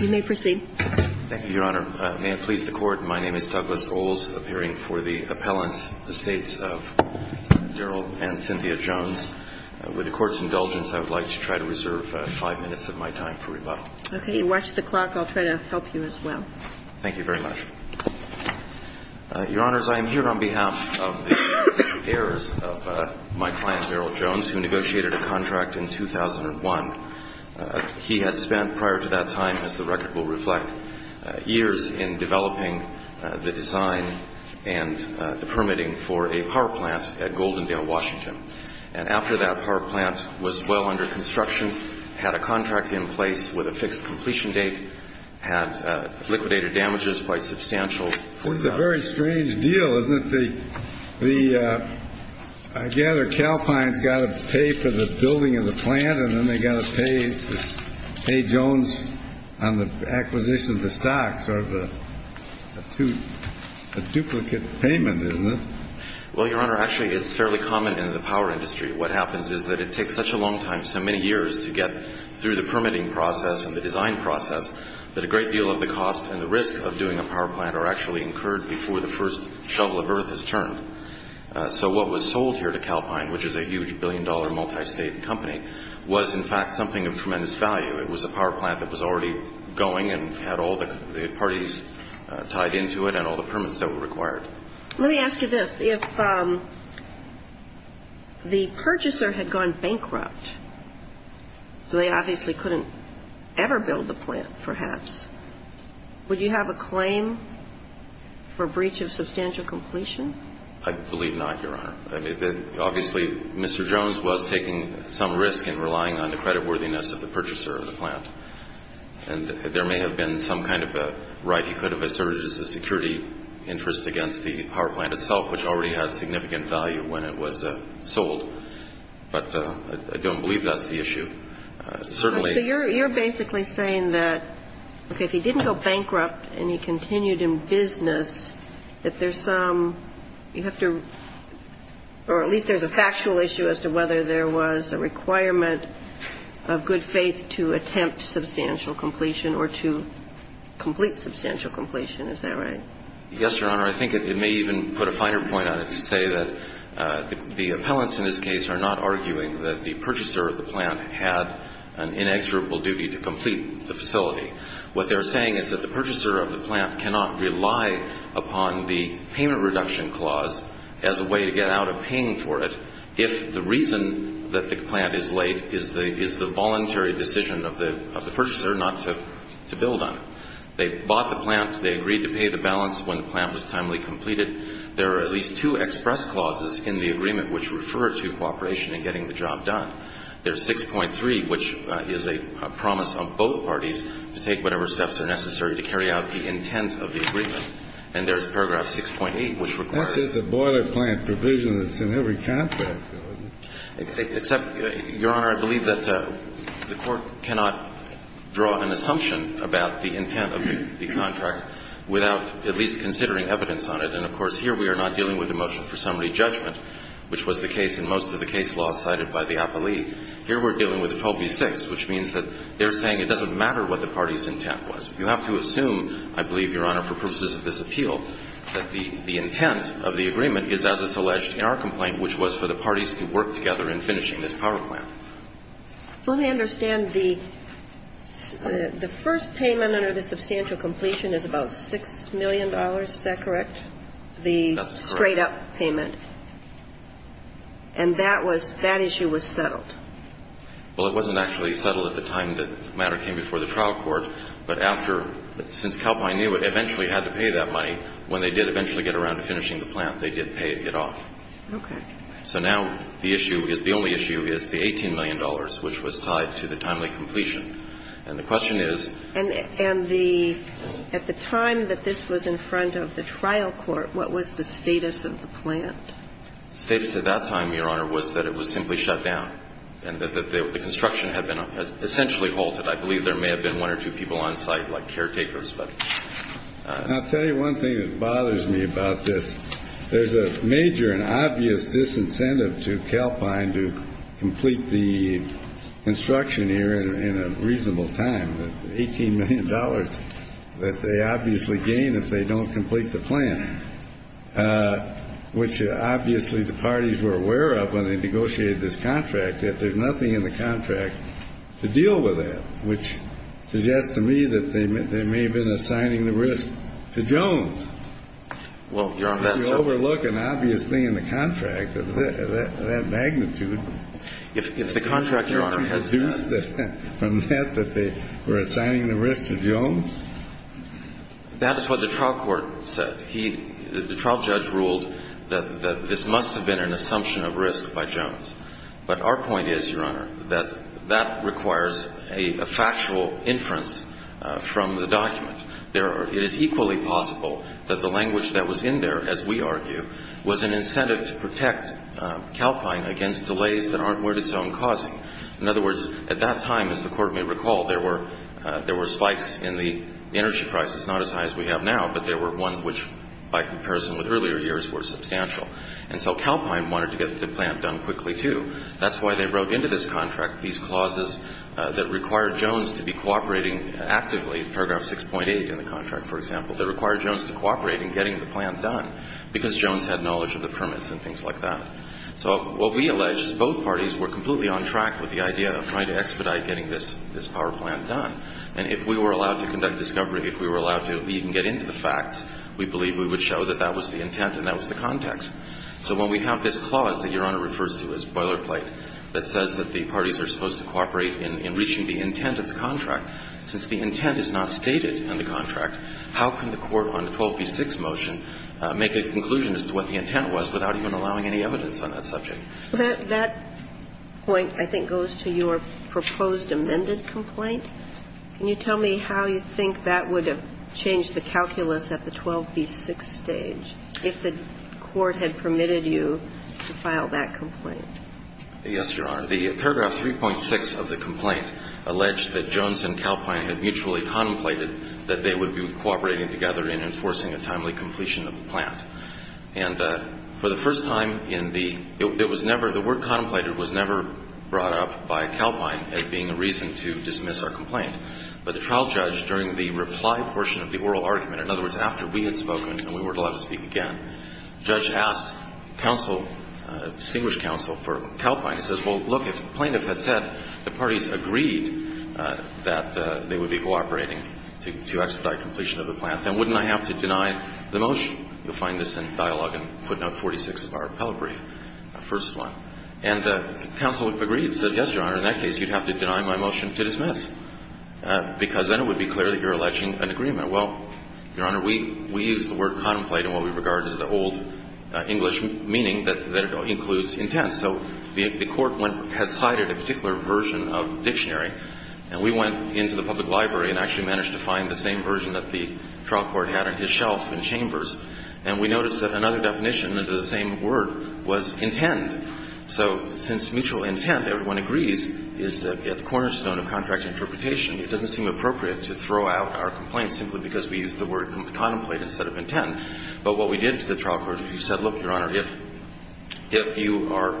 You may proceed. Thank you, Your Honor. May it please the Court, my name is Douglas Ohls, appearing for the appellant, the States of Daryl and Cynthia Jones. With the Court's indulgence, I would like to try to reserve five minutes of my time for rebuttal. Okay. Watch the clock. I'll try to help you as well. Thank you very much. Your Honors, I am here on behalf of the heirs of my client, Daryl Jones, who negotiated a contract in 2001. He had spent, prior to that time, as the record will reflect, years in developing the design and the permitting for a power plant at Goldendale, Washington. And after that power plant was well under construction, had a contract in place with a fixed completion date, had liquidated damages, quite substantial. Well, it's a very strange deal, isn't it? I gather Calpine's got to pay for the building of the plant, and then they got to pay Jones on the acquisition of the stocks. Sort of a duplicate payment, isn't it? Well, Your Honor, actually, it's fairly common in the power industry. What happens is that it takes such a long time, so many years, to get through the permitting process and the design process that a great deal of the cost and the risk of doing a power plant are actually incurred before the first shovel of earth is turned. So what was sold here to Calpine, which is a huge billion-dollar multi-state company, was, in fact, something of tremendous value. It was a power plant that was already going and had all the parties tied into it and all the permits that were required. Let me ask you this. If the purchaser had gone bankrupt, so they obviously couldn't ever build the plant, perhaps, would you have a claim for breach of substantial completion? I believe not, Your Honor. I mean, obviously, Mr. Jones was taking some risk in relying on the creditworthiness of the purchaser of the plant. And there may have been some kind of a right he could have asserted as a security interest against the power plant itself, which already had significant value when it was sold. But I don't believe that's the issue. Certainly you're basically saying that, okay, if he didn't go bankrupt and he continued in business, that there's some you have to or at least there's a factual issue as to whether there was a requirement of good faith to attempt substantial completion or to complete substantial completion. Is that right? Yes, Your Honor. I think it may even put a finer point on it to say that the appellants in this case are not arguing that the purchaser of the plant had an inexorable duty to complete the facility. What they're saying is that the purchaser of the plant cannot rely upon the payment reduction clause as a way to get out of paying for it if the reason that the plant is late is the voluntary decision of the purchaser not to build on it. They bought the plant. They agreed to pay the balance when the plant was timely completed. There are at least two express clauses in the agreement which refer to cooperation in getting the job done. There's 6.3, which is a promise on both parties to take whatever steps are necessary to carry out the intent of the agreement. And there's paragraph 6.8, which requires. That's just a boiler plant provision that's in every contract, though, isn't it? Except, Your Honor, I believe that the Court cannot draw an assumption about the intent of the contract without at least considering evidence on it. And, of course, here we are not dealing with the motion for summary judgment, which was the case in most of the case laws cited by the appellee. Here we're dealing with 12b-6, which means that they're saying it doesn't matter what the party's intent was. You have to assume, I believe, Your Honor, for purposes of this appeal, that the intent of the agreement is as it's alleged in our complaint, which was for the parties to work together in finishing this power plant. Let me understand. The first payment under the substantial completion is about $6 million. Is that correct? That's correct. And that payment, and that was, that issue was settled. Well, it wasn't actually settled at the time the matter came before the trial court, but after, since Calpine knew it eventually had to pay that money, when they did eventually get around to finishing the plant, they did pay it off. Okay. So now the issue, the only issue is the $18 million, which was tied to the timely completion. And the question is. And the, at the time that this was in front of the trial court, what was the status of the plant? The status at that time, Your Honor, was that it was simply shut down and that the construction had been essentially halted. I believe there may have been one or two people on site, like caretakers, but. And I'll tell you one thing that bothers me about this. There's a major and obvious disincentive to Calpine to complete the construction here in a reasonable time, the $18 million that they obviously gain if they don't complete the plant, which obviously the parties were aware of when they negotiated this contract, that there's nothing in the contract to deal with that, which suggests to me that they may have been assigning the risk to Jones. Well, Your Honor, that's. You overlook an obvious thing in the contract, that magnitude. If the contract, Your Honor. Can you deduce from that that they were assigning the risk to Jones? That is what the trial court said. The trial judge ruled that this must have been an assumption of risk by Jones. But our point is, Your Honor, that that requires a factual inference from the document. It is equally possible that the language that was in there, as we argue, was an incentive to protect Calpine against delays that aren't worth its own causing. In other words, at that time, as the Court may recall, there were spikes in the energy prices, not as high as we have now, but there were ones which, by comparison with earlier years, were substantial. And so Calpine wanted to get the plant done quickly, too. That's why they wrote into this contract these clauses that require Jones to be cooperating actively, paragraph 6.8 in the contract, for example, that require Jones to cooperate in getting the plant done, because Jones had knowledge of the permits and things like that. So what we allege is both parties were completely on track with the idea of trying to expedite getting this power plant done. And if we were allowed to conduct discovery, if we were allowed to even get into the facts, we believe we would show that that was the intent and that was the context. So when we have this clause that Your Honor refers to as boilerplate, that says that the parties are supposed to cooperate in reaching the intent of the contract, since the intent is not stated in the contract, how can the court on 12b-6 motion make a conclusion as to what the intent was without even allowing any evidence on that subject? That point, I think, goes to your proposed amended complaint. Can you tell me how you think that would have changed the calculus at the 12b-6 stage if the court had permitted you to file that complaint? Yes, Your Honor. The paragraph 3.6 of the complaint alleged that Jones and Calpine had mutually contemplated that they would be cooperating together in enforcing a timely completion of the plant. And for the first time in the ‑‑ it was never ‑‑ the word contemplated was never brought up by Calpine as being a reason to dismiss our complaint. But the trial judge, during the reply portion of the oral argument, in other words, after we had spoken and we were allowed to speak again, the judge asked counsel, distinguished counsel for Calpine. He says, well, look, if the plaintiff had said the parties agreed that they would be cooperating to expedite completion of the plant, then wouldn't I have to deny the motion? You'll find this in dialogue in footnote 46 of our appellate brief, the first one. And counsel agreed and says, yes, Your Honor, in that case, you'd have to deny my motion to dismiss, because then it would be clear that you're alleging an agreement. Well, Your Honor, we use the word contemplate in what we regard as the old English meaning that includes intent. So the court went ‑‑ had cited a particular version of dictionary, and we went into the public library and actually managed to find the same version that the trial court had on his shelf in Chambers. And we noticed that another definition of the same word was intent. So since mutual intent, everyone agrees, is the cornerstone of contract interpretation, it doesn't seem appropriate to throw out our complaint simply because we use the word contemplate instead of intent. But what we did to the trial court, we said, look, Your Honor, if you are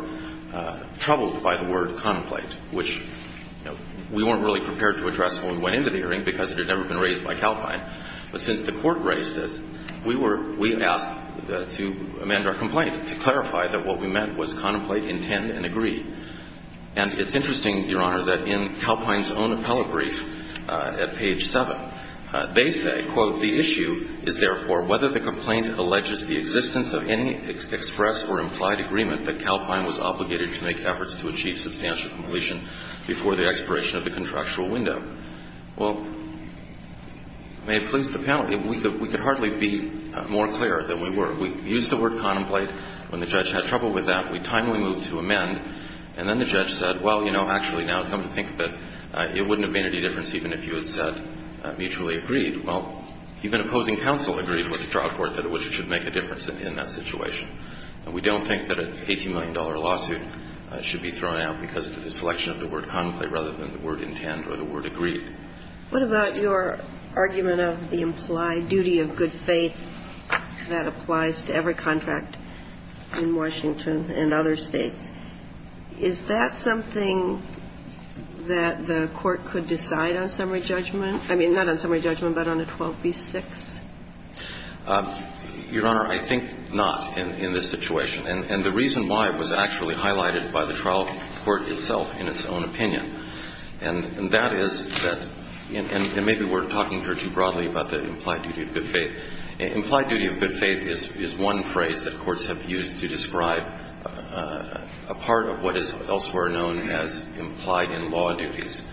troubled by the word contemplate, which we weren't really prepared to address when we went into the hearing because it had never been raised by Calpine, but since the court raised it, we were ‑‑ we asked to amend our complaint to clarify that what we meant was contemplate, intend, and agree. And it's interesting, Your Honor, that in Calpine's own appellate brief at page 7, they say, quote, the issue is therefore whether the complaint alleges the existence of any express or implied agreement that Calpine was obligated to make efforts to achieve substantial completion before the expiration of the contractual window. Well, may it please the panel, we could hardly be more clear than we were. We used the word contemplate. When the judge had trouble with that, we timely moved to amend. And then the judge said, well, you know, actually, now come to think of it, it wouldn't have made any difference even if you had said mutually agreed. Well, even opposing counsel agreed with the trial court that it should make a difference in that situation. And we don't think that an $18 million lawsuit should be thrown out because of the selection of the word contemplate rather than the word intend or the word agreed. What about your argument of the implied duty of good faith that applies to every contract in Washington and other states? Is that something that the Court could decide on summary judgment? I mean, not on summary judgment, but on a 12b-6? Your Honor, I think not in this situation. And the reason why was actually highlighted by the trial court itself in its own opinion. And that is that – and maybe we're talking here too broadly about the implied duty of good faith. Implied duty of good faith is one phrase that courts have used to describe a part of what is elsewhere known as implied-in-law duties.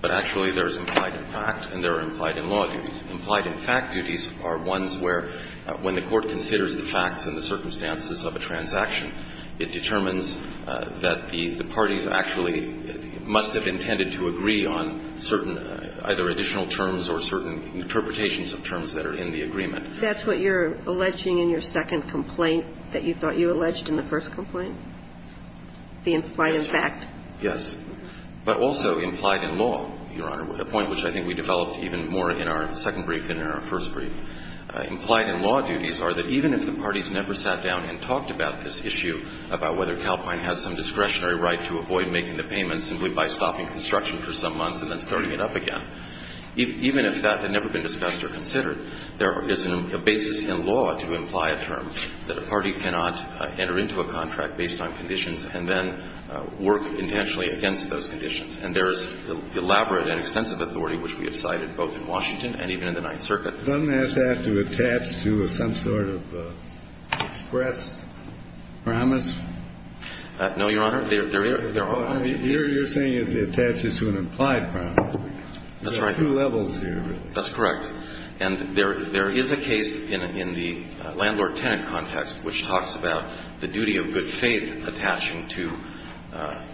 But actually, there's implied-in-fact and there are implied-in-law duties. Implied-in-fact duties are ones where, when the court considers the facts and the circumstances of a transaction, it determines that the parties actually must have intended to agree on certain either additional terms or certain interpretations of terms that are in the agreement. That's what you're alleging in your second complaint that you thought you alleged in the first complaint? The implied-in-fact? Yes. But also implied-in-law, Your Honor, a point which I think we developed even more in our second brief than in our first brief. Implied-in-law duties are that even if the parties never sat down and talked about this issue about whether Calpine has some discretionary right to avoid making the payment simply by stopping construction for some months and then starting it up again, even if that had never been discussed or considered, there is a basis in law to imply a term that a party cannot enter into a contract based on conditions and then work intentionally against those conditions. And there is elaborate and extensive authority, which we have cited both in Washington and even in the Ninth Circuit. Doesn't that have to attach to some sort of express promise? No, Your Honor. There are not. You're saying it attaches to an implied promise. That's right. There are two levels here. That's correct. And there is a case in the landlord-tenant context which talks about the duty of good faith attaching to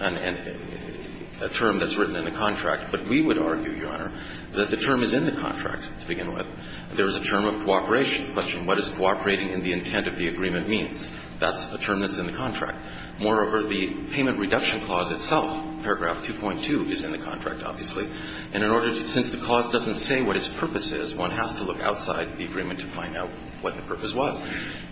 a term that's written in a contract. But we would argue, Your Honor, that the term is in the contract to begin with. There is a term of cooperation. The question, what is cooperating in the intent of the agreement, means. That's a term that's in the contract. Moreover, the payment reduction clause itself, paragraph 2.2, is in the contract, obviously. And in order to – since the clause doesn't say what its purpose is, one has to look outside the agreement to find out what the purpose was.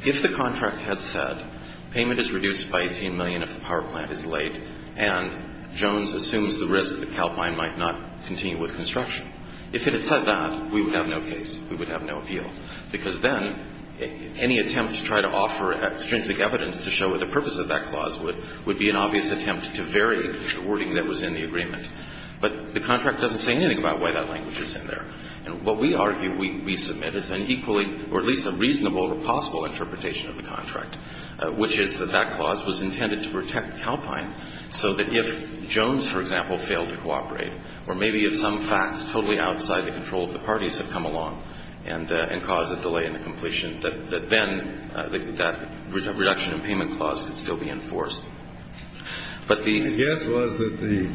If the contract had said payment is reduced by 18 million if the power plant is late and Jones assumes the risk that Calpine might not continue with construction, if it had said that, we would have no case. We would have no appeal, because then any attempt to try to offer extrinsic evidence to show what the purpose of that clause would be an obvious attempt to vary the wording that was in the agreement. But the contract doesn't say anything about why that language is in there. And what we argue we submit is an equally or at least a reasonable or possible interpretation of the contract, which is that that clause was intended to protect Calpine so that if Jones, for example, failed to cooperate, or maybe if some facts totally outside the control of the parties had come along and caused a delay in the completion, that then that reduction in payment clause could still be enforced. But the – The guess was that the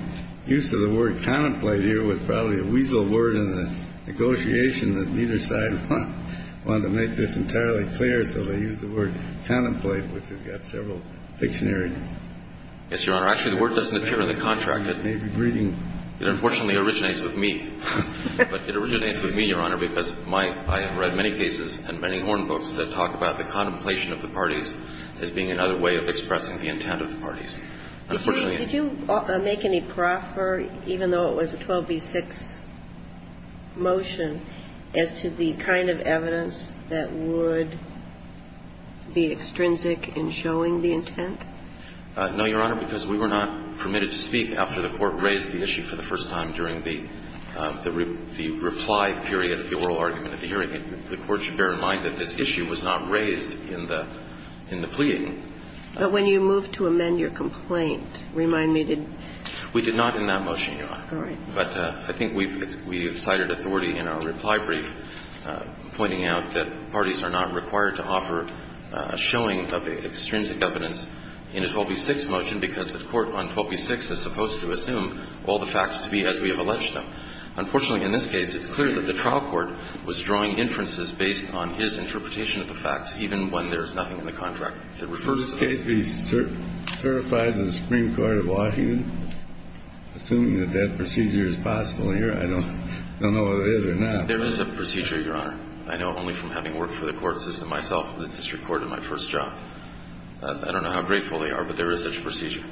use of the word contemplate here was probably a weasel word in the negotiation that neither side wanted to make this entirely clear, so they used the word contemplate, which has got several dictionaries. Yes, Your Honor. Actually, the word doesn't appear in the contract. It may be breeding. It unfortunately originates with me. But it originates with me, Your Honor, because my – I have read many cases and many horn books that talk about the contemplation of the parties as being another way of expressing the intent of the parties. Unfortunately – Did you make any proffer, even though it was a 12b-6 motion, as to the kind of evidence that would be extrinsic in showing the intent? No, Your Honor, because we were not permitted to speak after the Court raised the issue for the first time during the reply period, the oral argument of the hearing. The Court should bear in mind that this issue was not raised in the – in the pleading. But when you moved to amend your complaint, remind me, did – We did not in that motion, Your Honor. All right. But I think we've cited authority in our reply brief pointing out that parties are not required to offer a showing of the extrinsic evidence in a 12b-6 motion because the Court on 12b-6 is supposed to assume all the facts to be as we have alleged Unfortunately, in this case, it's clear that the trial court was drawing inferences based on his interpretation of the facts, even when there's nothing in the contract that refers to them. In this case, we certified the Supreme Court of Washington, assuming that that procedure is possible here. I don't know if it is or not. There is a procedure, Your Honor. I know only from having worked for the court system myself, the district court, in my first job. I don't know how grateful they are, but there is such a procedure.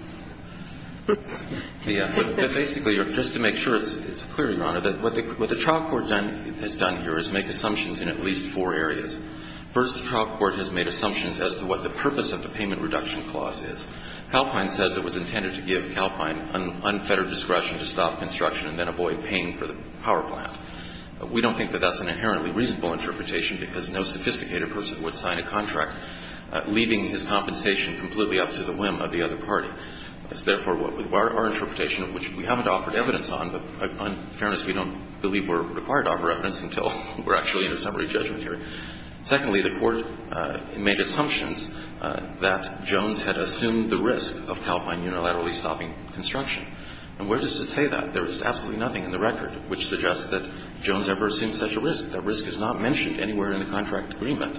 Basically, just to make sure it's clear, Your Honor, what the trial court has done here is make assumptions in at least four areas. First, the trial court has made assumptions as to what the purpose of the payment reduction clause is. Calpine says it was intended to give Calpine unfettered discretion to stop construction and then avoid paying for the power plant. We don't think that that's an inherently reasonable interpretation because no sophisticated person would sign a contract leaving his compensation completely up to the whim of the other party. It's therefore our interpretation, which we haven't offered evidence on, but in fairness, we don't believe we're required to offer evidence until we're actually in a summary judgment hearing. Secondly, the court made assumptions that Jones had assumed the risk of Calpine unilaterally stopping construction. And where does it say that? There is absolutely nothing in the record which suggests that Jones ever assumed such a risk. That risk is not mentioned anywhere in the contract agreement.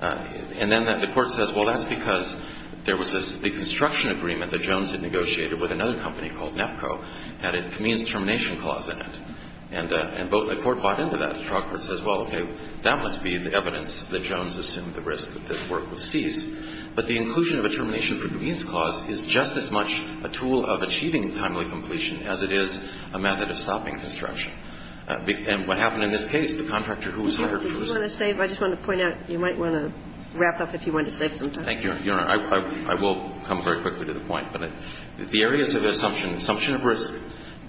And then the court says, well, that's because there was this the construction agreement that Jones had negotiated with another company called NEPCO had a convenience termination clause in it. And the court bought into that. The trial court says, well, okay, that must be the evidence that Jones assumed the risk that the work was ceased. But the inclusion of a termination convenience clause is just as much a tool of achieving timely completion as it is a method of stopping construction. And what happened in this case, the contractor who was hired first. I just want to point out, you might want to wrap up if you want to save some time. Thank you, Your Honor. I will come very quickly to the point. But the areas of assumption, assumption of risk,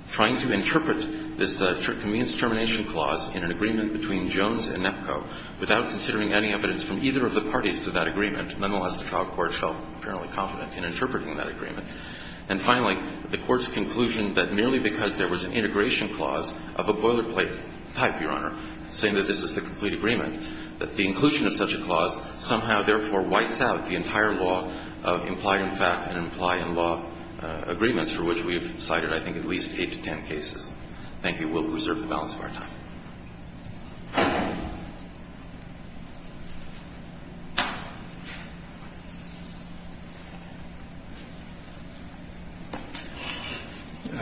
trying to interpret this convenience termination clause in an agreement between Jones and NEPCO without considering any evidence from either of the parties to that agreement. Nonetheless, the trial court felt apparently confident in interpreting that agreement. And finally, the court's conclusion that merely because there was an integration clause of a boilerplate type, Your Honor, saying that this is the complete agreement, that the inclusion of such a clause somehow therefore wipes out the entire law of implied in fact and implied in law agreements for which we have cited, I think, at least eight to ten cases. Thank you. We'll reserve the balance of our time.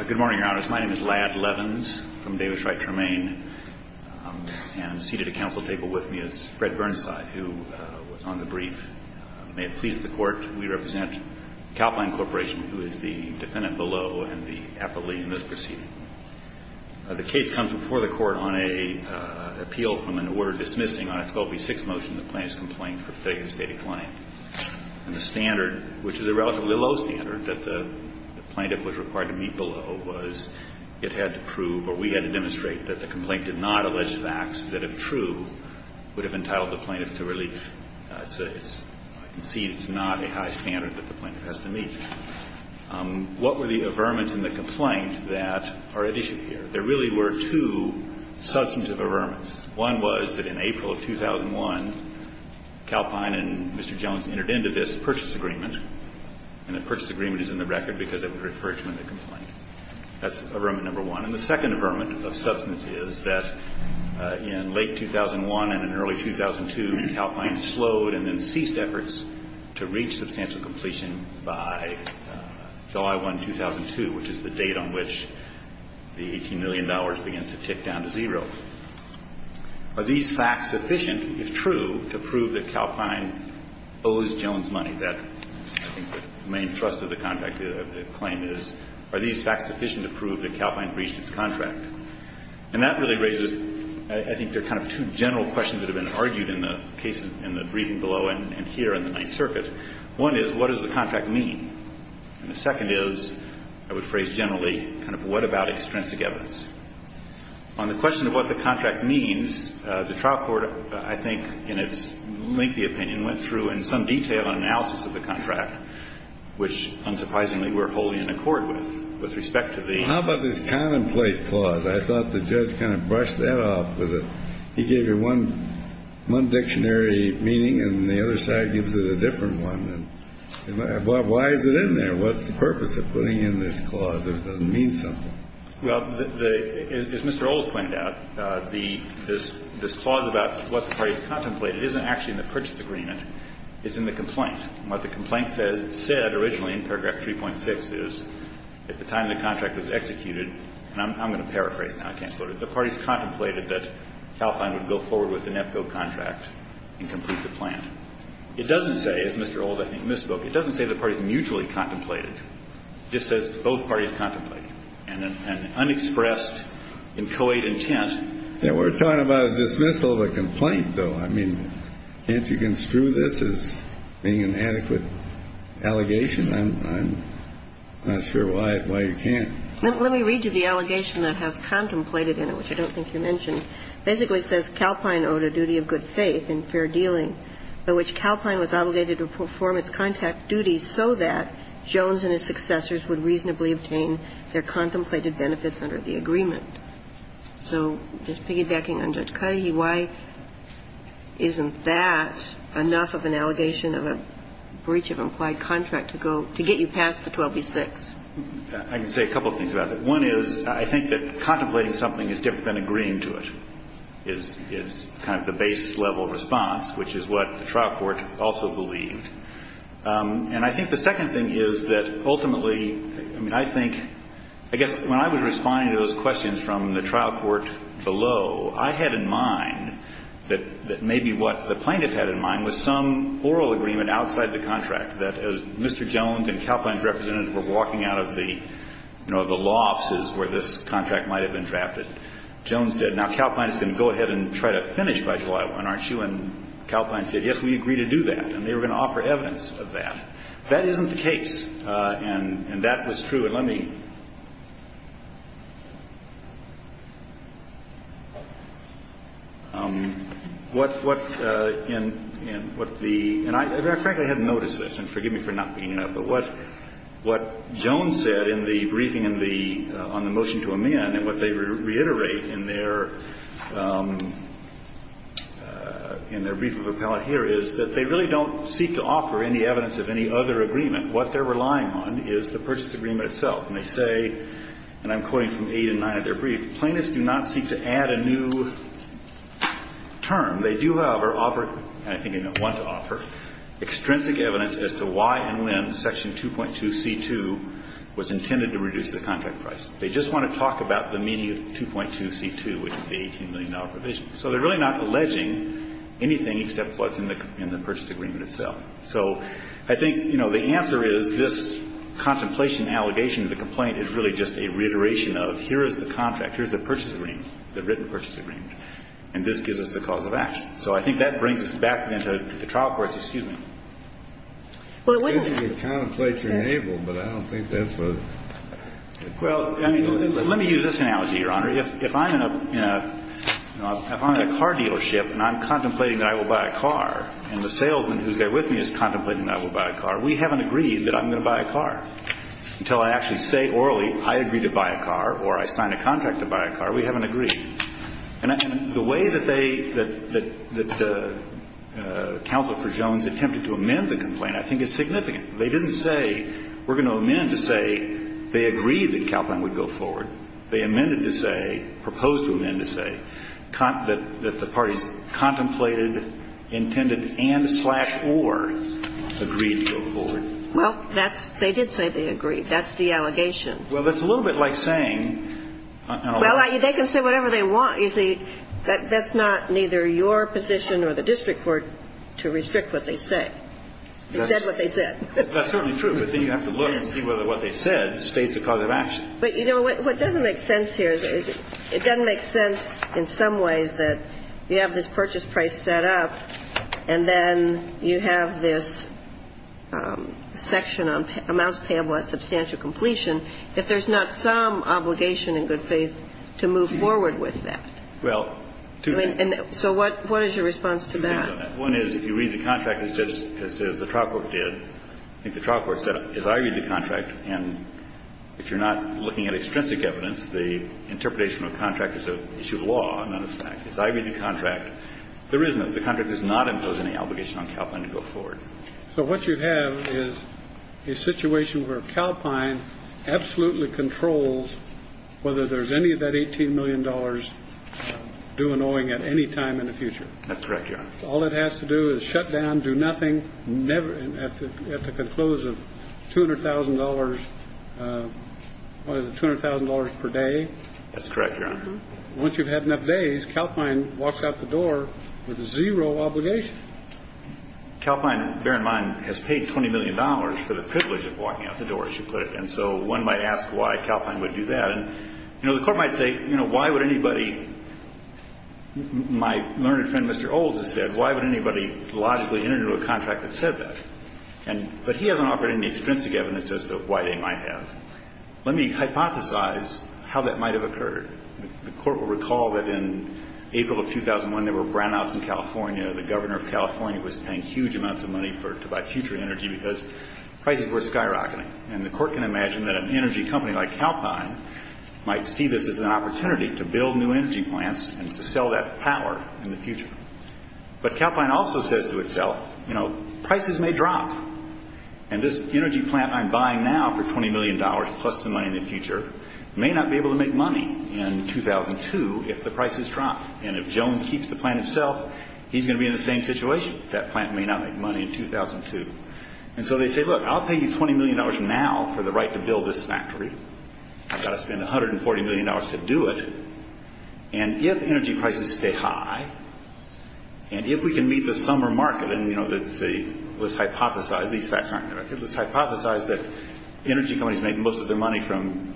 Good morning, Your Honors. My name is Lad Levins from Davis Wright Tremaine. And seated at council table with me is Fred Burnside, who was on the brief. May it please the Court, we represent Calpine Corporation, who is the defendant below and the appellee in this proceeding. The case comes before the Court on an appeal from an order dismissing on a 12b-6 motion the plaintiff's complaint for faking a stated claim. And the standard, which is a relatively low standard that the plaintiff was required to meet below, was it had to prove or we had to demonstrate that the complaint did not allege facts that, if true, would have entitled the plaintiff to relief. I can see it's not a high standard that the plaintiff has to meet. What were the averments in the complaint that are at issue here? There really were two substantive averments. One was that in April of 2001, Calpine and Mr. Jones entered into this purchase agreement. And the purchase agreement is in the record because it would refer to in the complaint. That's averment number one. And the second averment of substance is that in late 2001 and in early 2002, Calpine slowed and then ceased efforts to reach substantial completion by July 1, 2002, which is the date on which the $18 million begins to tick down to zero. Are these facts sufficient, if true, to prove that Calpine owes Jones money? That's, I think, the main thrust of the claim is, are these facts sufficient to prove that Calpine breached its contract? And that really raises, I think, there are kind of two general questions that have been argued in the cases in the reading below and here in the Ninth Circuit. One is, what does the contract mean? And the second is, I would phrase generally, kind of what about extrinsic evidence? On the question of what the contract means, the trial court, I think, in its lengthy opinion, went through in some detail an analysis of the contract, which, unsurprisingly, we're wholly in accord with, with respect to the ---- Well, how about this contemplate clause? I thought the judge kind of brushed that off with a ---- One dictionary meaning, and the other side gives it a different one. Why is it in there? What's the purpose of putting in this clause? It doesn't mean something. Well, as Mr. Olds pointed out, the ---- this clause about what the parties contemplated isn't actually in the purchase agreement. It's in the complaint. And what the complaint said originally in paragraph 3.6 is, at the time the contract was executed, and I'm going to paraphrase now. I can't go to it. It doesn't say, as Mr. Olds, I think, misspoke. It doesn't say the parties mutually contemplated. It just says both parties contemplated. And an unexpressed and co-aid intent ---- We're talking about a dismissal of a complaint, though. I mean, can't you construe this as being an adequate allegation? I'm not sure why you can't. Let me read you the allegation that has contemplated in it, which I don't think you mentioned. It basically says, Calpine owed a duty of good faith and fair dealing by which Calpine was obligated to perform its contract duties so that Jones and his successors would reasonably obtain their contemplated benefits under the agreement. So just piggybacking on Judge Cuddy, why isn't that enough of an allegation of a breach of implied contract to go to get you past the 12b-6? I can say a couple of things about that. One is I think that contemplating something is different than agreeing to it is kind of the base level response, which is what the trial court also believed. And I think the second thing is that ultimately I think ---- I guess when I was responding to those questions from the trial court below, I had in mind that maybe what the plaintiff had in mind was some oral agreement outside the contract that as Mr. Jones and Calpine's representative were walking out of the lofts is where this contract might have been drafted. Jones said, now, Calpine is going to go ahead and try to finish by July 1, aren't you? And Calpine said, yes, we agree to do that. And they were going to offer evidence of that. That isn't the case. And that was true. And let me ---- And what the ---- and I frankly hadn't noticed this, and forgive me for not being here, but what Jones said in the briefing on the motion to amend and what they reiterate in their ---- in their brief of appellate here is that they really don't seek to offer any evidence of any other agreement. What they're relying on is the purchase agreement itself. And they say, and I'm quoting from 8 and 9 of their brief, plaintiffs do not seek to add a new term. They do, however, offer, and I think they don't want to offer, extrinsic evidence as to why and when Section 2.2c2 was intended to reduce the contract price. They just want to talk about the meaning of 2.2c2, which is the $18 million provision. So they're really not alleging anything except what's in the purchase agreement itself. So I think, you know, the answer is this contemplation, allegation of the complaint is really just a reiteration of here is the contract, here is the purchase agreement, the written purchase agreement. And this gives us the cause of action. So I think that brings us back then to the trial courts. Excuse me. Well, wait a minute. I guess you could contemplate your navel, but I don't think that's a ---- Well, let me use this analogy, Your Honor. If I'm in a car dealership and I'm contemplating that I will buy a car and the salesman who's there with me is contemplating that I will buy a car, we haven't agreed that I'm going to buy a car. Until I actually say orally I agree to buy a car or I sign a contract to buy a car, we haven't agreed. And the way that they ---- that the counsel for Jones attempted to amend the complaint I think is significant. They didn't say we're going to amend to say they agreed that CalPlan would go forward. They amended to say, proposed to amend to say that the parties contemplated, intended and slash or agreed to go forward. Well, that's ---- they did say they agreed. That's the allegation. Well, that's a little bit like saying ---- Well, they can say whatever they want, you see. That's not neither your position or the district court to restrict what they say. They said what they said. That's certainly true, but then you have to look and see whether what they said states a cause of action. But, you know, what doesn't make sense here is it doesn't make sense in some ways that you have this purchase price set up and then you have this section on amounts that you have to pay and you have to pay a substantial completion if there's not some obligation in good faith to move forward with that. Well, two things. And so what is your response to that? Two things on that. One is if you read the contract as the trial court did, I think the trial court said if I read the contract and if you're not looking at extrinsic evidence, the interpretation of the contract is an issue of law, not of fact. If I read the contract, there isn't. The contract does not impose any obligation on Calpine to go forward. So what you have is a situation where Calpine absolutely controls whether there's any of that $18 million due in owing at any time in the future. That's correct, Your Honor. All it has to do is shut down, do nothing, never at the conclusive $200,000, $200,000 per day. That's correct, Your Honor. Once you've had enough days, Calpine walks out the door with zero obligation. Calpine, bear in mind, has paid $20 million for the privilege of walking out the door, as you put it. And so one might ask why Calpine would do that. And, you know, the Court might say, you know, why would anybody – my learned friend, Mr. Olds, has said, why would anybody logically enter into a contract that said that? But he hasn't offered any extrinsic evidence as to why they might have. Let me hypothesize how that might have occurred. The Court will recall that in April of 2001, there were brownouts in California. The governor of California was paying huge amounts of money to buy future energy because prices were skyrocketing. And the Court can imagine that an energy company like Calpine might see this as an opportunity to build new energy plants and to sell that power in the future. But Calpine also says to itself, you know, prices may drop. And this energy plant I'm buying now for $20 million plus the money in the in 2002 if the prices drop. And if Jones keeps the plant himself, he's going to be in the same situation. That plant may not make money in 2002. And so they say, look, I'll pay you $20 million now for the right to build this factory. I've got to spend $140 million to do it. And if energy prices stay high, and if we can meet the summer market, and, you know, let's hypothesize – these facts aren't correct. Let's hypothesize that energy companies make most of their money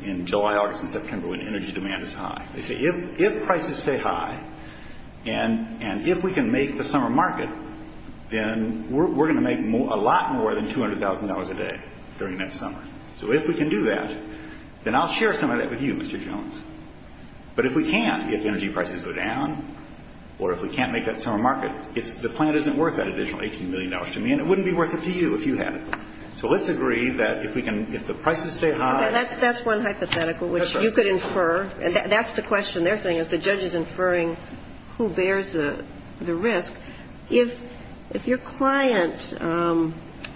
in July, August, and September when energy demand is high. They say if prices stay high and if we can make the summer market, then we're going to make a lot more than $200,000 a day during that summer. So if we can do that, then I'll share some of that with you, Mr. Jones. But if we can't, if energy prices go down or if we can't make that summer market, the plant isn't worth that additional $18 million to me, and it wouldn't be worth it to you if you had it. Okay. That's one hypothetical which you could infer. That's the question they're saying is the judge is inferring who bears the risk. If your client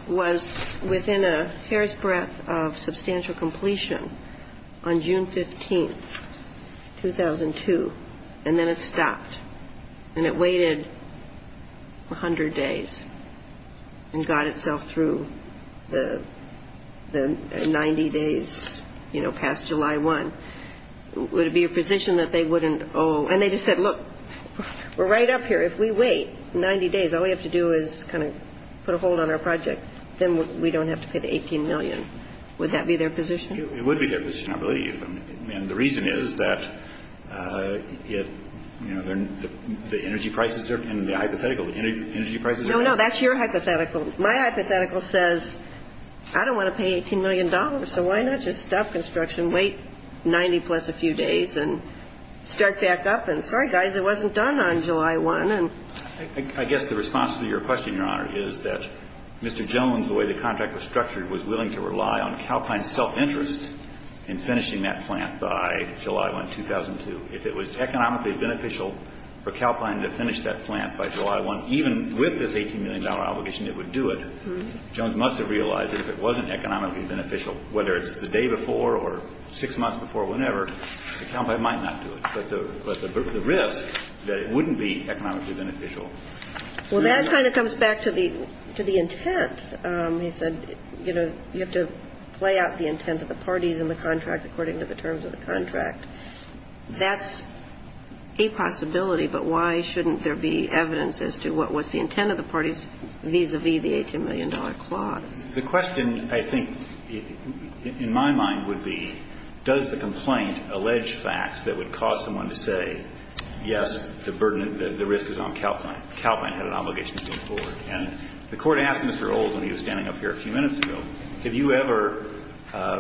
was within a hair's breadth of substantial completion on June 15, 2002, and then it stopped and it waited 100 days and got itself through the 90 days, you know, past July 1, would it be a position that they wouldn't owe? And they just said, look, we're right up here. If we wait 90 days, all we have to do is kind of put a hold on our project, then we don't have to pay the 18 million. Would that be their position? It would be their position, I believe. And the reason is that, you know, the energy prices are going to be hypothetical. The energy prices are going to be hypothetical. No, no, that's your hypothetical. My hypothetical says I don't want to pay $18 million, so why not just stop construction, wait 90 plus a few days, and start back up? And sorry, guys, it wasn't done on July 1. I guess the response to your question, Your Honor, is that Mr. Jones, the way the contract was structured, was willing to rely on Calpine's self-interest in finishing that plant by July 1, 2002. If it was economically beneficial for Calpine to finish that plant by July 1, even with this $18 million obligation, it would do it. Jones must have realized that if it wasn't economically beneficial, whether it's the day before or six months before, whenever, Calpine might not do it. But the risk that it wouldn't be economically beneficial. Well, that kind of comes back to the intent. He said, you know, you have to play out the intent of the parties in the contract according to the terms of the contract. That's a possibility, but why shouldn't there be evidence as to what was the intent of the parties vis-à-vis the $18 million clause? The question, I think, in my mind would be, does the complaint allege facts that would cause someone to say, yes, the burden, the risk is on Calpine, Calpine had an obligation to move forward. And the Court asked Mr. Old when he was standing up here a few minutes ago, have you ever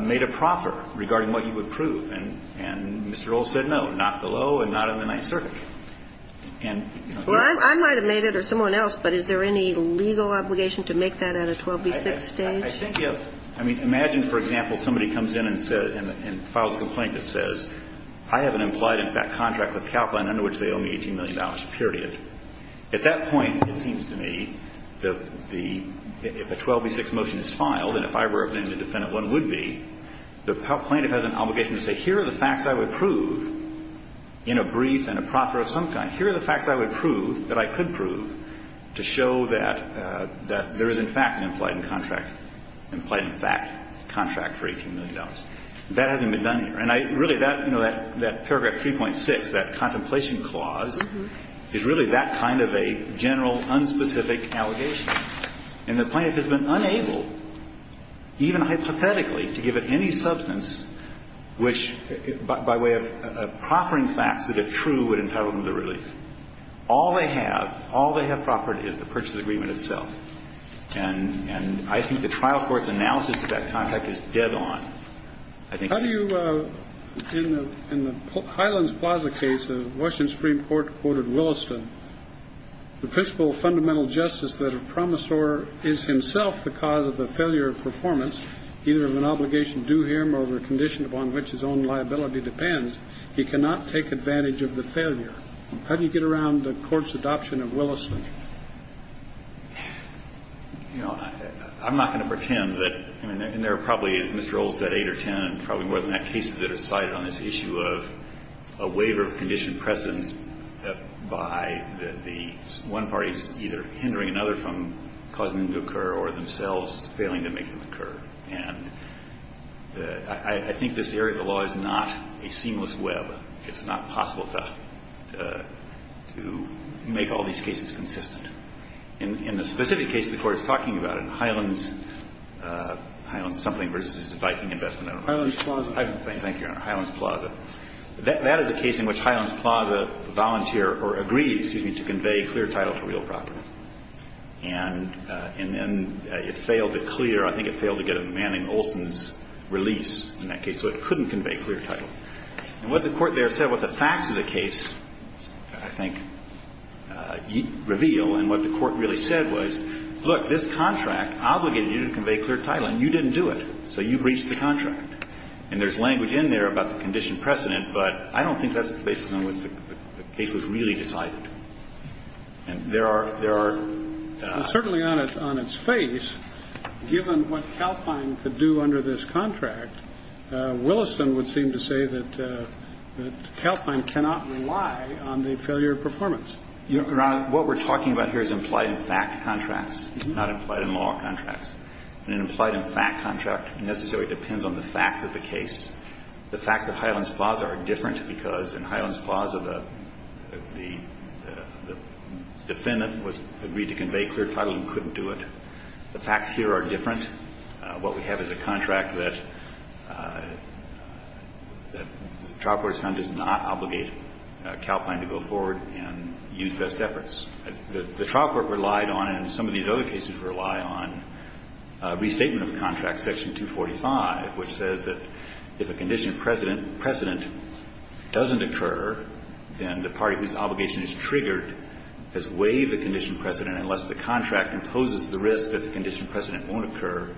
made a proffer regarding what you would prove? And Mr. Old said no, not below and not in the Ninth Circuit. And, you know. Well, I might have made it or someone else, but is there any legal obligation to make that at a 12b6 stage? I think, yes. I mean, imagine, for example, somebody comes in and said, and files a complaint that says, I have an implied, in fact, contract with Calpine under which they owe me $18 million, period. At that point, it seems to me that the, if a 12b6 motion is filed, and if I were the defendant, one would be, the plaintiff has an obligation to say, here are the facts I would prove in a brief and a proffer of some kind. Here are the facts I would prove, that I could prove, to show that there is, in fact, an implied contract, implied, in fact, contract for $18 million. That hasn't been done here. And I really, that, you know, that paragraph 3.6, that contemplation clause, is really that kind of a general, unspecific allegation. And the plaintiff has been unable, even hypothetically, to give it any substance which, by way of proffering facts that are true, would entitle them to release. All they have, all they have proffered is the purchase agreement itself. And I think the trial court's analysis of that contract is dead on. I think so. In the Highlands Plaza case, the Washington Supreme Court quoted Williston, the principle of fundamental justice that a promissor is himself the cause of the failure of performance, either of an obligation due him or of a condition upon which his own liability depends. He cannot take advantage of the failure. How do you get around the court's adoption of Williston? You know, I'm not going to pretend that, and there are probably, as Mr. Olds said, eight or ten, probably more than that, cases that are cited on this issue of a waiver of condition precedence by the one party's either hindering another from causing them to occur or themselves failing to make them occur. And I think this area of the law is not a seamless web. It's not possible to make all these cases consistent. In the specific case the Court is talking about, in Highlands, Highlands something versus the Viking investment. Highlands Plaza. Thank you, Your Honor. Highlands Plaza. That is a case in which Highlands Plaza volunteered or agreed, excuse me, to convey clear title to real property. And then it failed to clear, I think it failed to get a man named Olson's release in that case, so it couldn't convey clear title. And what the Court there said, what the facts of the case, I think, reveal, and what the Court really said was, look, this contract obligated you to convey clear title, and you didn't do it, so you breached the contract. And there's language in there about the condition precedent, but I don't think that's the basis on which the case was really decided. And there are – there are – Well, certainly on its face, given what Calpine could do under this contract, Williston would seem to say that Calpine cannot rely on the failure of performance. Your Honor, what we're talking about here is implied in fact contracts, not implied in law contracts. An implied in fact contract necessarily depends on the facts of the case. The facts of Highlands Plaza are different because in Highlands Plaza the defendant was agreed to convey clear title and couldn't do it. The facts here are different. What we have is a contract that the trial court has found does not obligate Calpine to go forward and use best efforts. The trial court relied on, and some of these other cases rely on, restatement of contract section 245, which says that if a condition precedent doesn't occur, then the party whose obligation is triggered has waived the condition precedent unless the contract imposes the risk that the condition precedent won't occur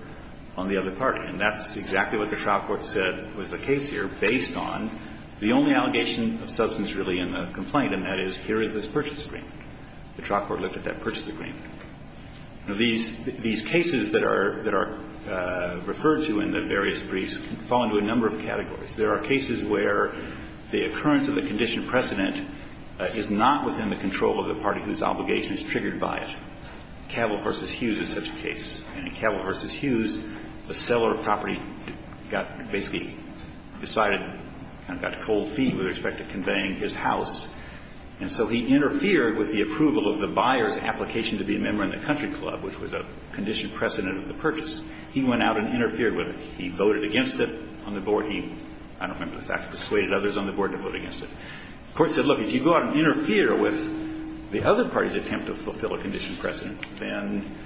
on the other party. And that's exactly what the trial court said with the case here based on the only allegation of substance really in the complaint, and that is here is this purchase agreement. The trial court looked at that purchase agreement. Now, these cases that are referred to in the various briefs fall into a number of categories. There are cases where the occurrence of a condition precedent is not within the control of the party whose obligation is triggered by it. Cavill v. Hughes is such a case. And in Cavill v. Hughes, the seller of property got basically decided and got cold feet with respect to conveying his house. And so he interfered with the approval of the buyer's application to be a member in the country club, which was a condition precedent of the purchase. He went out and interfered with it. He voted against it on the board. He, I don't remember the facts, persuaded others on the board to vote against it. The court said, look, if you go out and interfere with the other party's attempt to fulfill a condition precedent, then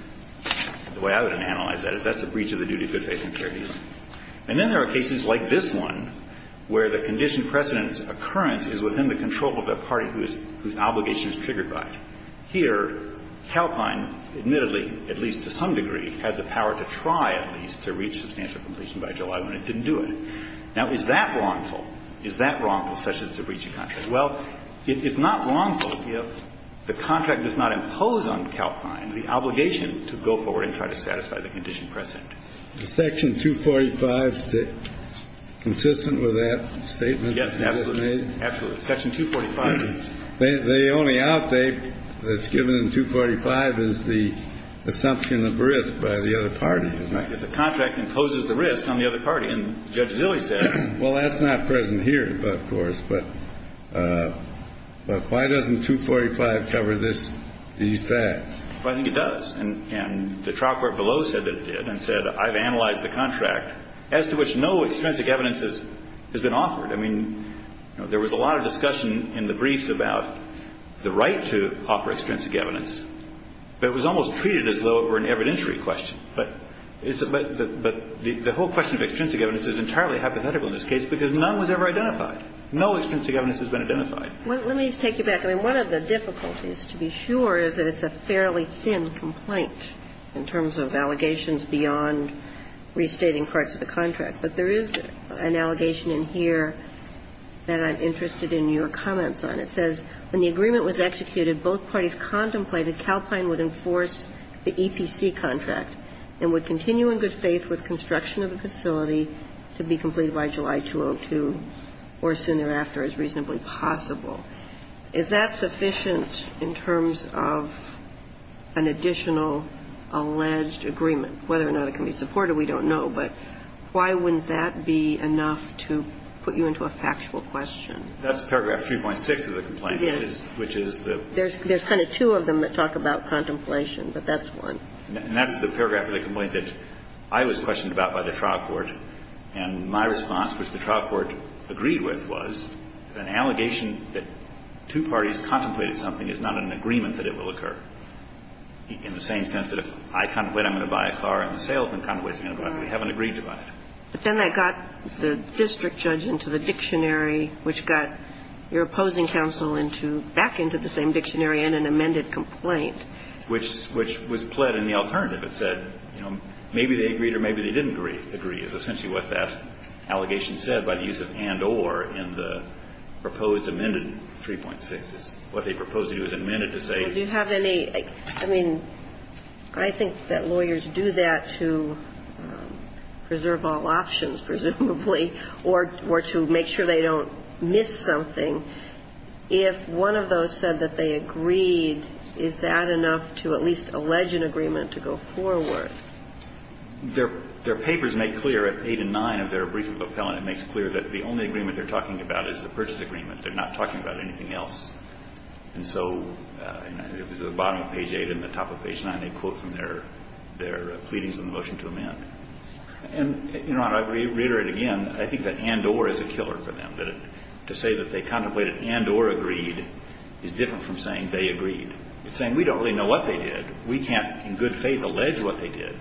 the way I would analyze that is that's a breach of the duty of good faith and fair dealing. And then there are cases like this one where the condition precedent's occurrence is within the control of the party whose obligation is triggered by it. Here, Calpine admittedly, at least to some degree, had the power to try at least to reach substantial completion by July 1 and it didn't do it. Now, is that wrongful? Is that wrongful such as a breach of contract? Well, it's not wrongful if the contract does not impose on Calpine the obligation to go forward and try to satisfy the condition precedent. Section 245, consistent with that statement? Yes, absolutely. Absolutely. Section 245. The only outdate that's given in 245 is the assumption of risk by the other party, isn't it? The contract imposes the risk on the other party. And Judge Zilley said. Well, that's not present here, of course. But why doesn't 245 cover this, these facts? I think it does. And the trial court below said that it did and said I've analyzed the contract as to which no extrinsic evidence has been offered. I mean, there was a lot of discussion in the briefs about the right to offer extrinsic evidence, but it was almost treated as though it were an evidentiary question. But the whole question of extrinsic evidence is entirely hypothetical in this case because none was ever identified. No extrinsic evidence has been identified. Let me take you back. I mean, one of the difficulties, to be sure, is that it's a fairly thin complaint in terms of allegations beyond restating parts of the contract. But there is an allegation in here that I'm interested in your comments on. It says, When the agreement was executed, both parties contemplated Calpine would enforce the EPC contract and would continue in good faith with construction of the facility to be completed by July 2002 or soon thereafter as reasonably possible. Is that sufficient in terms of an additional alleged agreement? Whether or not it can be supported, we don't know. But why wouldn't that be enough to put you into a factual question? That's paragraph 3.6 of the complaint. Yes. Which is the – There's kind of two of them that talk about contemplation, but that's one. And that's the paragraph of the complaint that I was questioned about by the trial court, and my response, which the trial court agreed with, was that an allegation that two parties contemplated something is not an agreement that it will occur, in the same sense that if I contemplate I'm going to buy a car and the salesman contemplates he's going to buy it. We haven't agreed to buy it. But then that got the district judge into the dictionary, which got your opposing counsel into – back into the same dictionary in an amended complaint. Which was pled in the alternative. It said, you know, maybe they agreed or maybe they didn't agree is essentially what that allegation said by the use of and or in the proposed amended 3.6. What they proposed to do is amend it to say you have any – I mean, I think that lawyers do that to preserve all options, presumably, or to make sure they don't miss something. If one of those said that they agreed, is that enough to at least allege an agreement to go forward? Their papers make clear at 8 and 9 of their brief of appellant, it makes clear that the only agreement they're talking about is the purchase agreement. They're not talking about anything else. And so it was at the bottom of page 8 and the top of page 9, they quote from their pleadings in the motion to amend. And, Your Honor, I reiterate again, I think that and or is a killer for them. To say that they contemplated and or agreed is different from saying they agreed. It's saying we don't really know what they did. We can't, in good faith, allege what they did.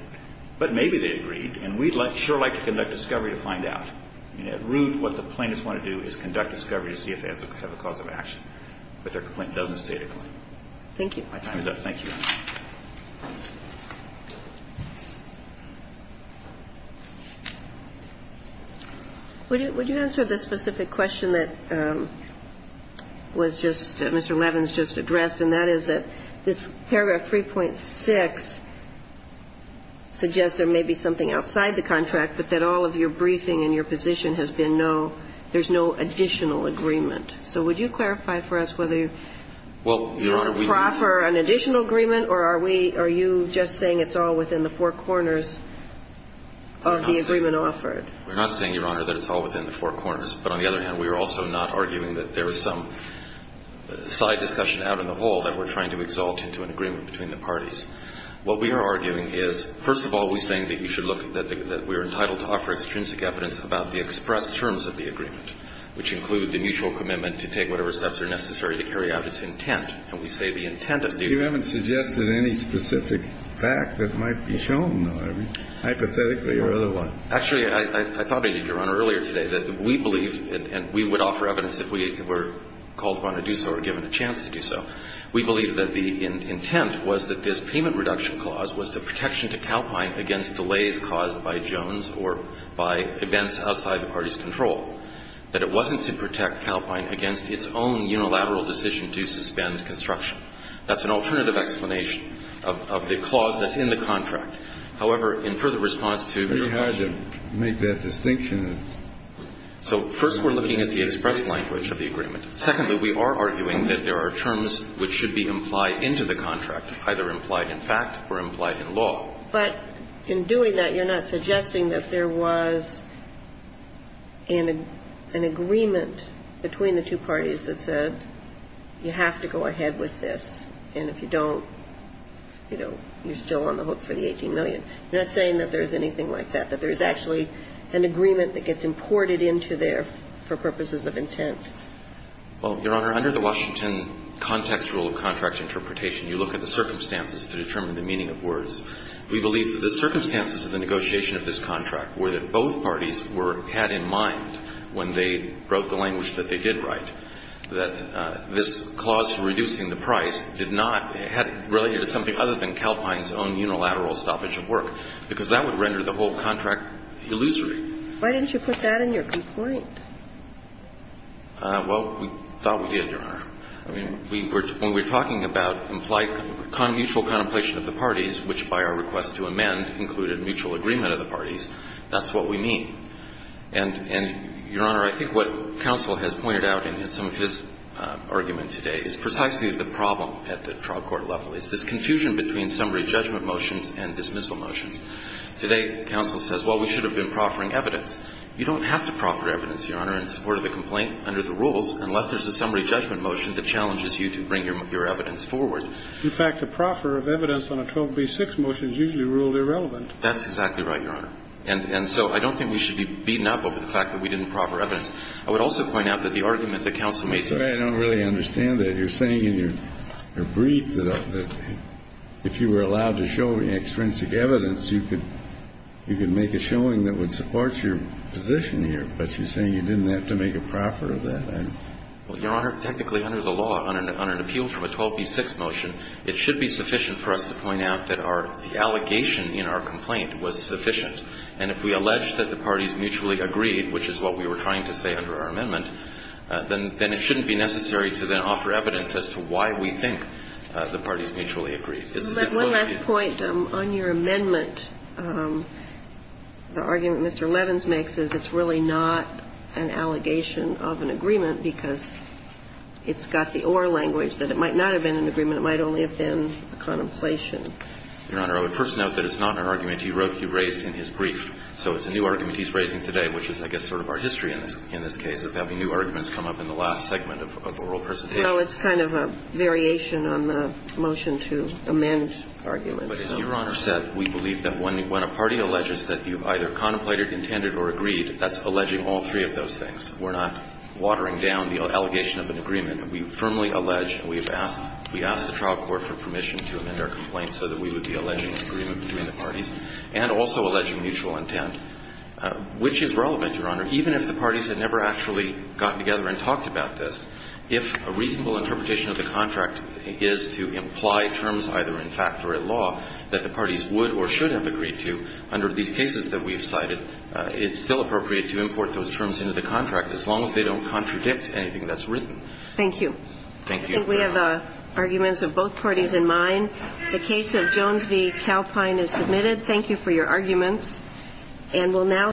But maybe they agreed. And we'd sure like to conduct discovery to find out. At root, what the plaintiffs want to do is conduct discovery to see if they have a cause of action. But their complaint doesn't state a claim. Thank you. My time is up. Would you answer the specific question that was just Mr. Levin's just addressed, and that is that this paragraph 3.6 suggests there may be something outside the contract, but that all of your briefing and your position has been no, there's no additional agreement. So would you clarify for us whether you offer an additional agreement or are we, are you just saying it's all within the four corners of the agreement offered? We're not saying, Your Honor, that it's all within the four corners. But on the other hand, we are also not arguing that there is some side discussion out in the hall that we're trying to exalt into an agreement between the parties. What we are arguing is, first of all, we're saying that you should look, that we are entitled to offer extrinsic evidence about the express terms of the agreement, which include the mutual commitment to take whatever steps are necessary to carry out its intent. And we say the intent of the agreement. You haven't suggested any specific fact that might be shown, hypothetically, or otherwise. Actually, I thought, Your Honor, earlier today that we believe, and we would offer evidence if we were called upon to do so or given a chance to do so. We believe that the intent was that this payment reduction clause was the protection to Calpine against delays caused by Jones or by events outside the party's control. That it wasn't to protect Calpine against its own unilateral decision to suspend the construction. That's an alternative explanation of the clause that's in the contract. However, in further response to your question. Kennedy. It's very hard to make that distinction. So first, we're looking at the express language of the agreement. Secondly, we are arguing that there are terms which should be implied into the contract, either implied in fact or implied in law. But in doing that, you're not suggesting that there was an agreement between the two parties that said you have to go ahead with this, and if you don't, you know, you're still on the hook for the $18 million. You're not saying that there's anything like that, that there's actually an agreement that gets imported into there for purposes of intent. Well, Your Honor, under the Washington context rule of contract interpretation, you look at the circumstances to determine the meaning of words. We believe that the circumstances of the negotiation of this contract were that both parties were had in mind when they wrote the language that they did write, that this clause to reducing the price did not have related to something other than Calpine's own unilateral stoppage of work. Because that would render the whole contract illusory. Why didn't you put that in your complaint? Well, we thought we did, Your Honor. I mean, when we're talking about implied mutual contemplation of the parties, which by our request to amend included mutual agreement of the parties, that's what we mean. And, Your Honor, I think what counsel has pointed out in some of his argument today is precisely the problem at the trial court level. It's this confusion between summary judgment motions and dismissal motions. Today, counsel says, well, we should have been proffering evidence. You don't have to proffer evidence, Your Honor, in support of the complaint under the rules unless there's a summary judgment motion that challenges you to bring your evidence forward. In fact, a proffer of evidence on a 12b-6 motion is usually ruled irrelevant. That's exactly right, Your Honor. And so I don't think we should be beaten up over the fact that we didn't proffer evidence. I would also point out that the argument that counsel made today was that you're saying in your brief that if you were allowed to show extrinsic evidence, you could make a showing that would support your position here. But she's saying you didn't have to make a proffer of that. Well, Your Honor, technically under the law, on an appeal from a 12b-6 motion, it should be sufficient for us to point out that our allegation in our complaint was sufficient. And if we allege that the parties mutually agreed, which is what we were trying to say under our amendment, then it shouldn't be necessary to then offer evidence as to why we think the parties mutually agreed. One last point. On your amendment, the argument Mr. Levins makes is it's really not an allegation of an agreement because it's got the oral language that it might not have been an agreement, it might only have been a contemplation. Your Honor, I would first note that it's not an argument he wrote, he raised in his brief. So it's a new argument he's raising today, which is, I guess, sort of our history in this case of having new arguments come up in the last segment of the oral presentation. So it's kind of a variation on the motion to amend arguments. But as Your Honor said, we believe that when a party alleges that you either contemplated, intended, or agreed, that's alleging all three of those things. We're not watering down the allegation of an agreement. We firmly allege, and we have asked, we asked the trial court for permission to amend our complaint so that we would be alleging an agreement between the parties and also alleging mutual intent, which is relevant, Your Honor, even if the parties had never actually gotten together and talked about this. If a reasonable interpretation of the contract is to imply terms either in fact or in law that the parties would or should have agreed to under these cases that we've cited, it's still appropriate to import those terms into the contract as long as they don't contradict anything that's written. Thank you. Thank you. I think we have arguments of both parties in mind. The case of Jones v. Calpine is submitted. Thank you for your arguments.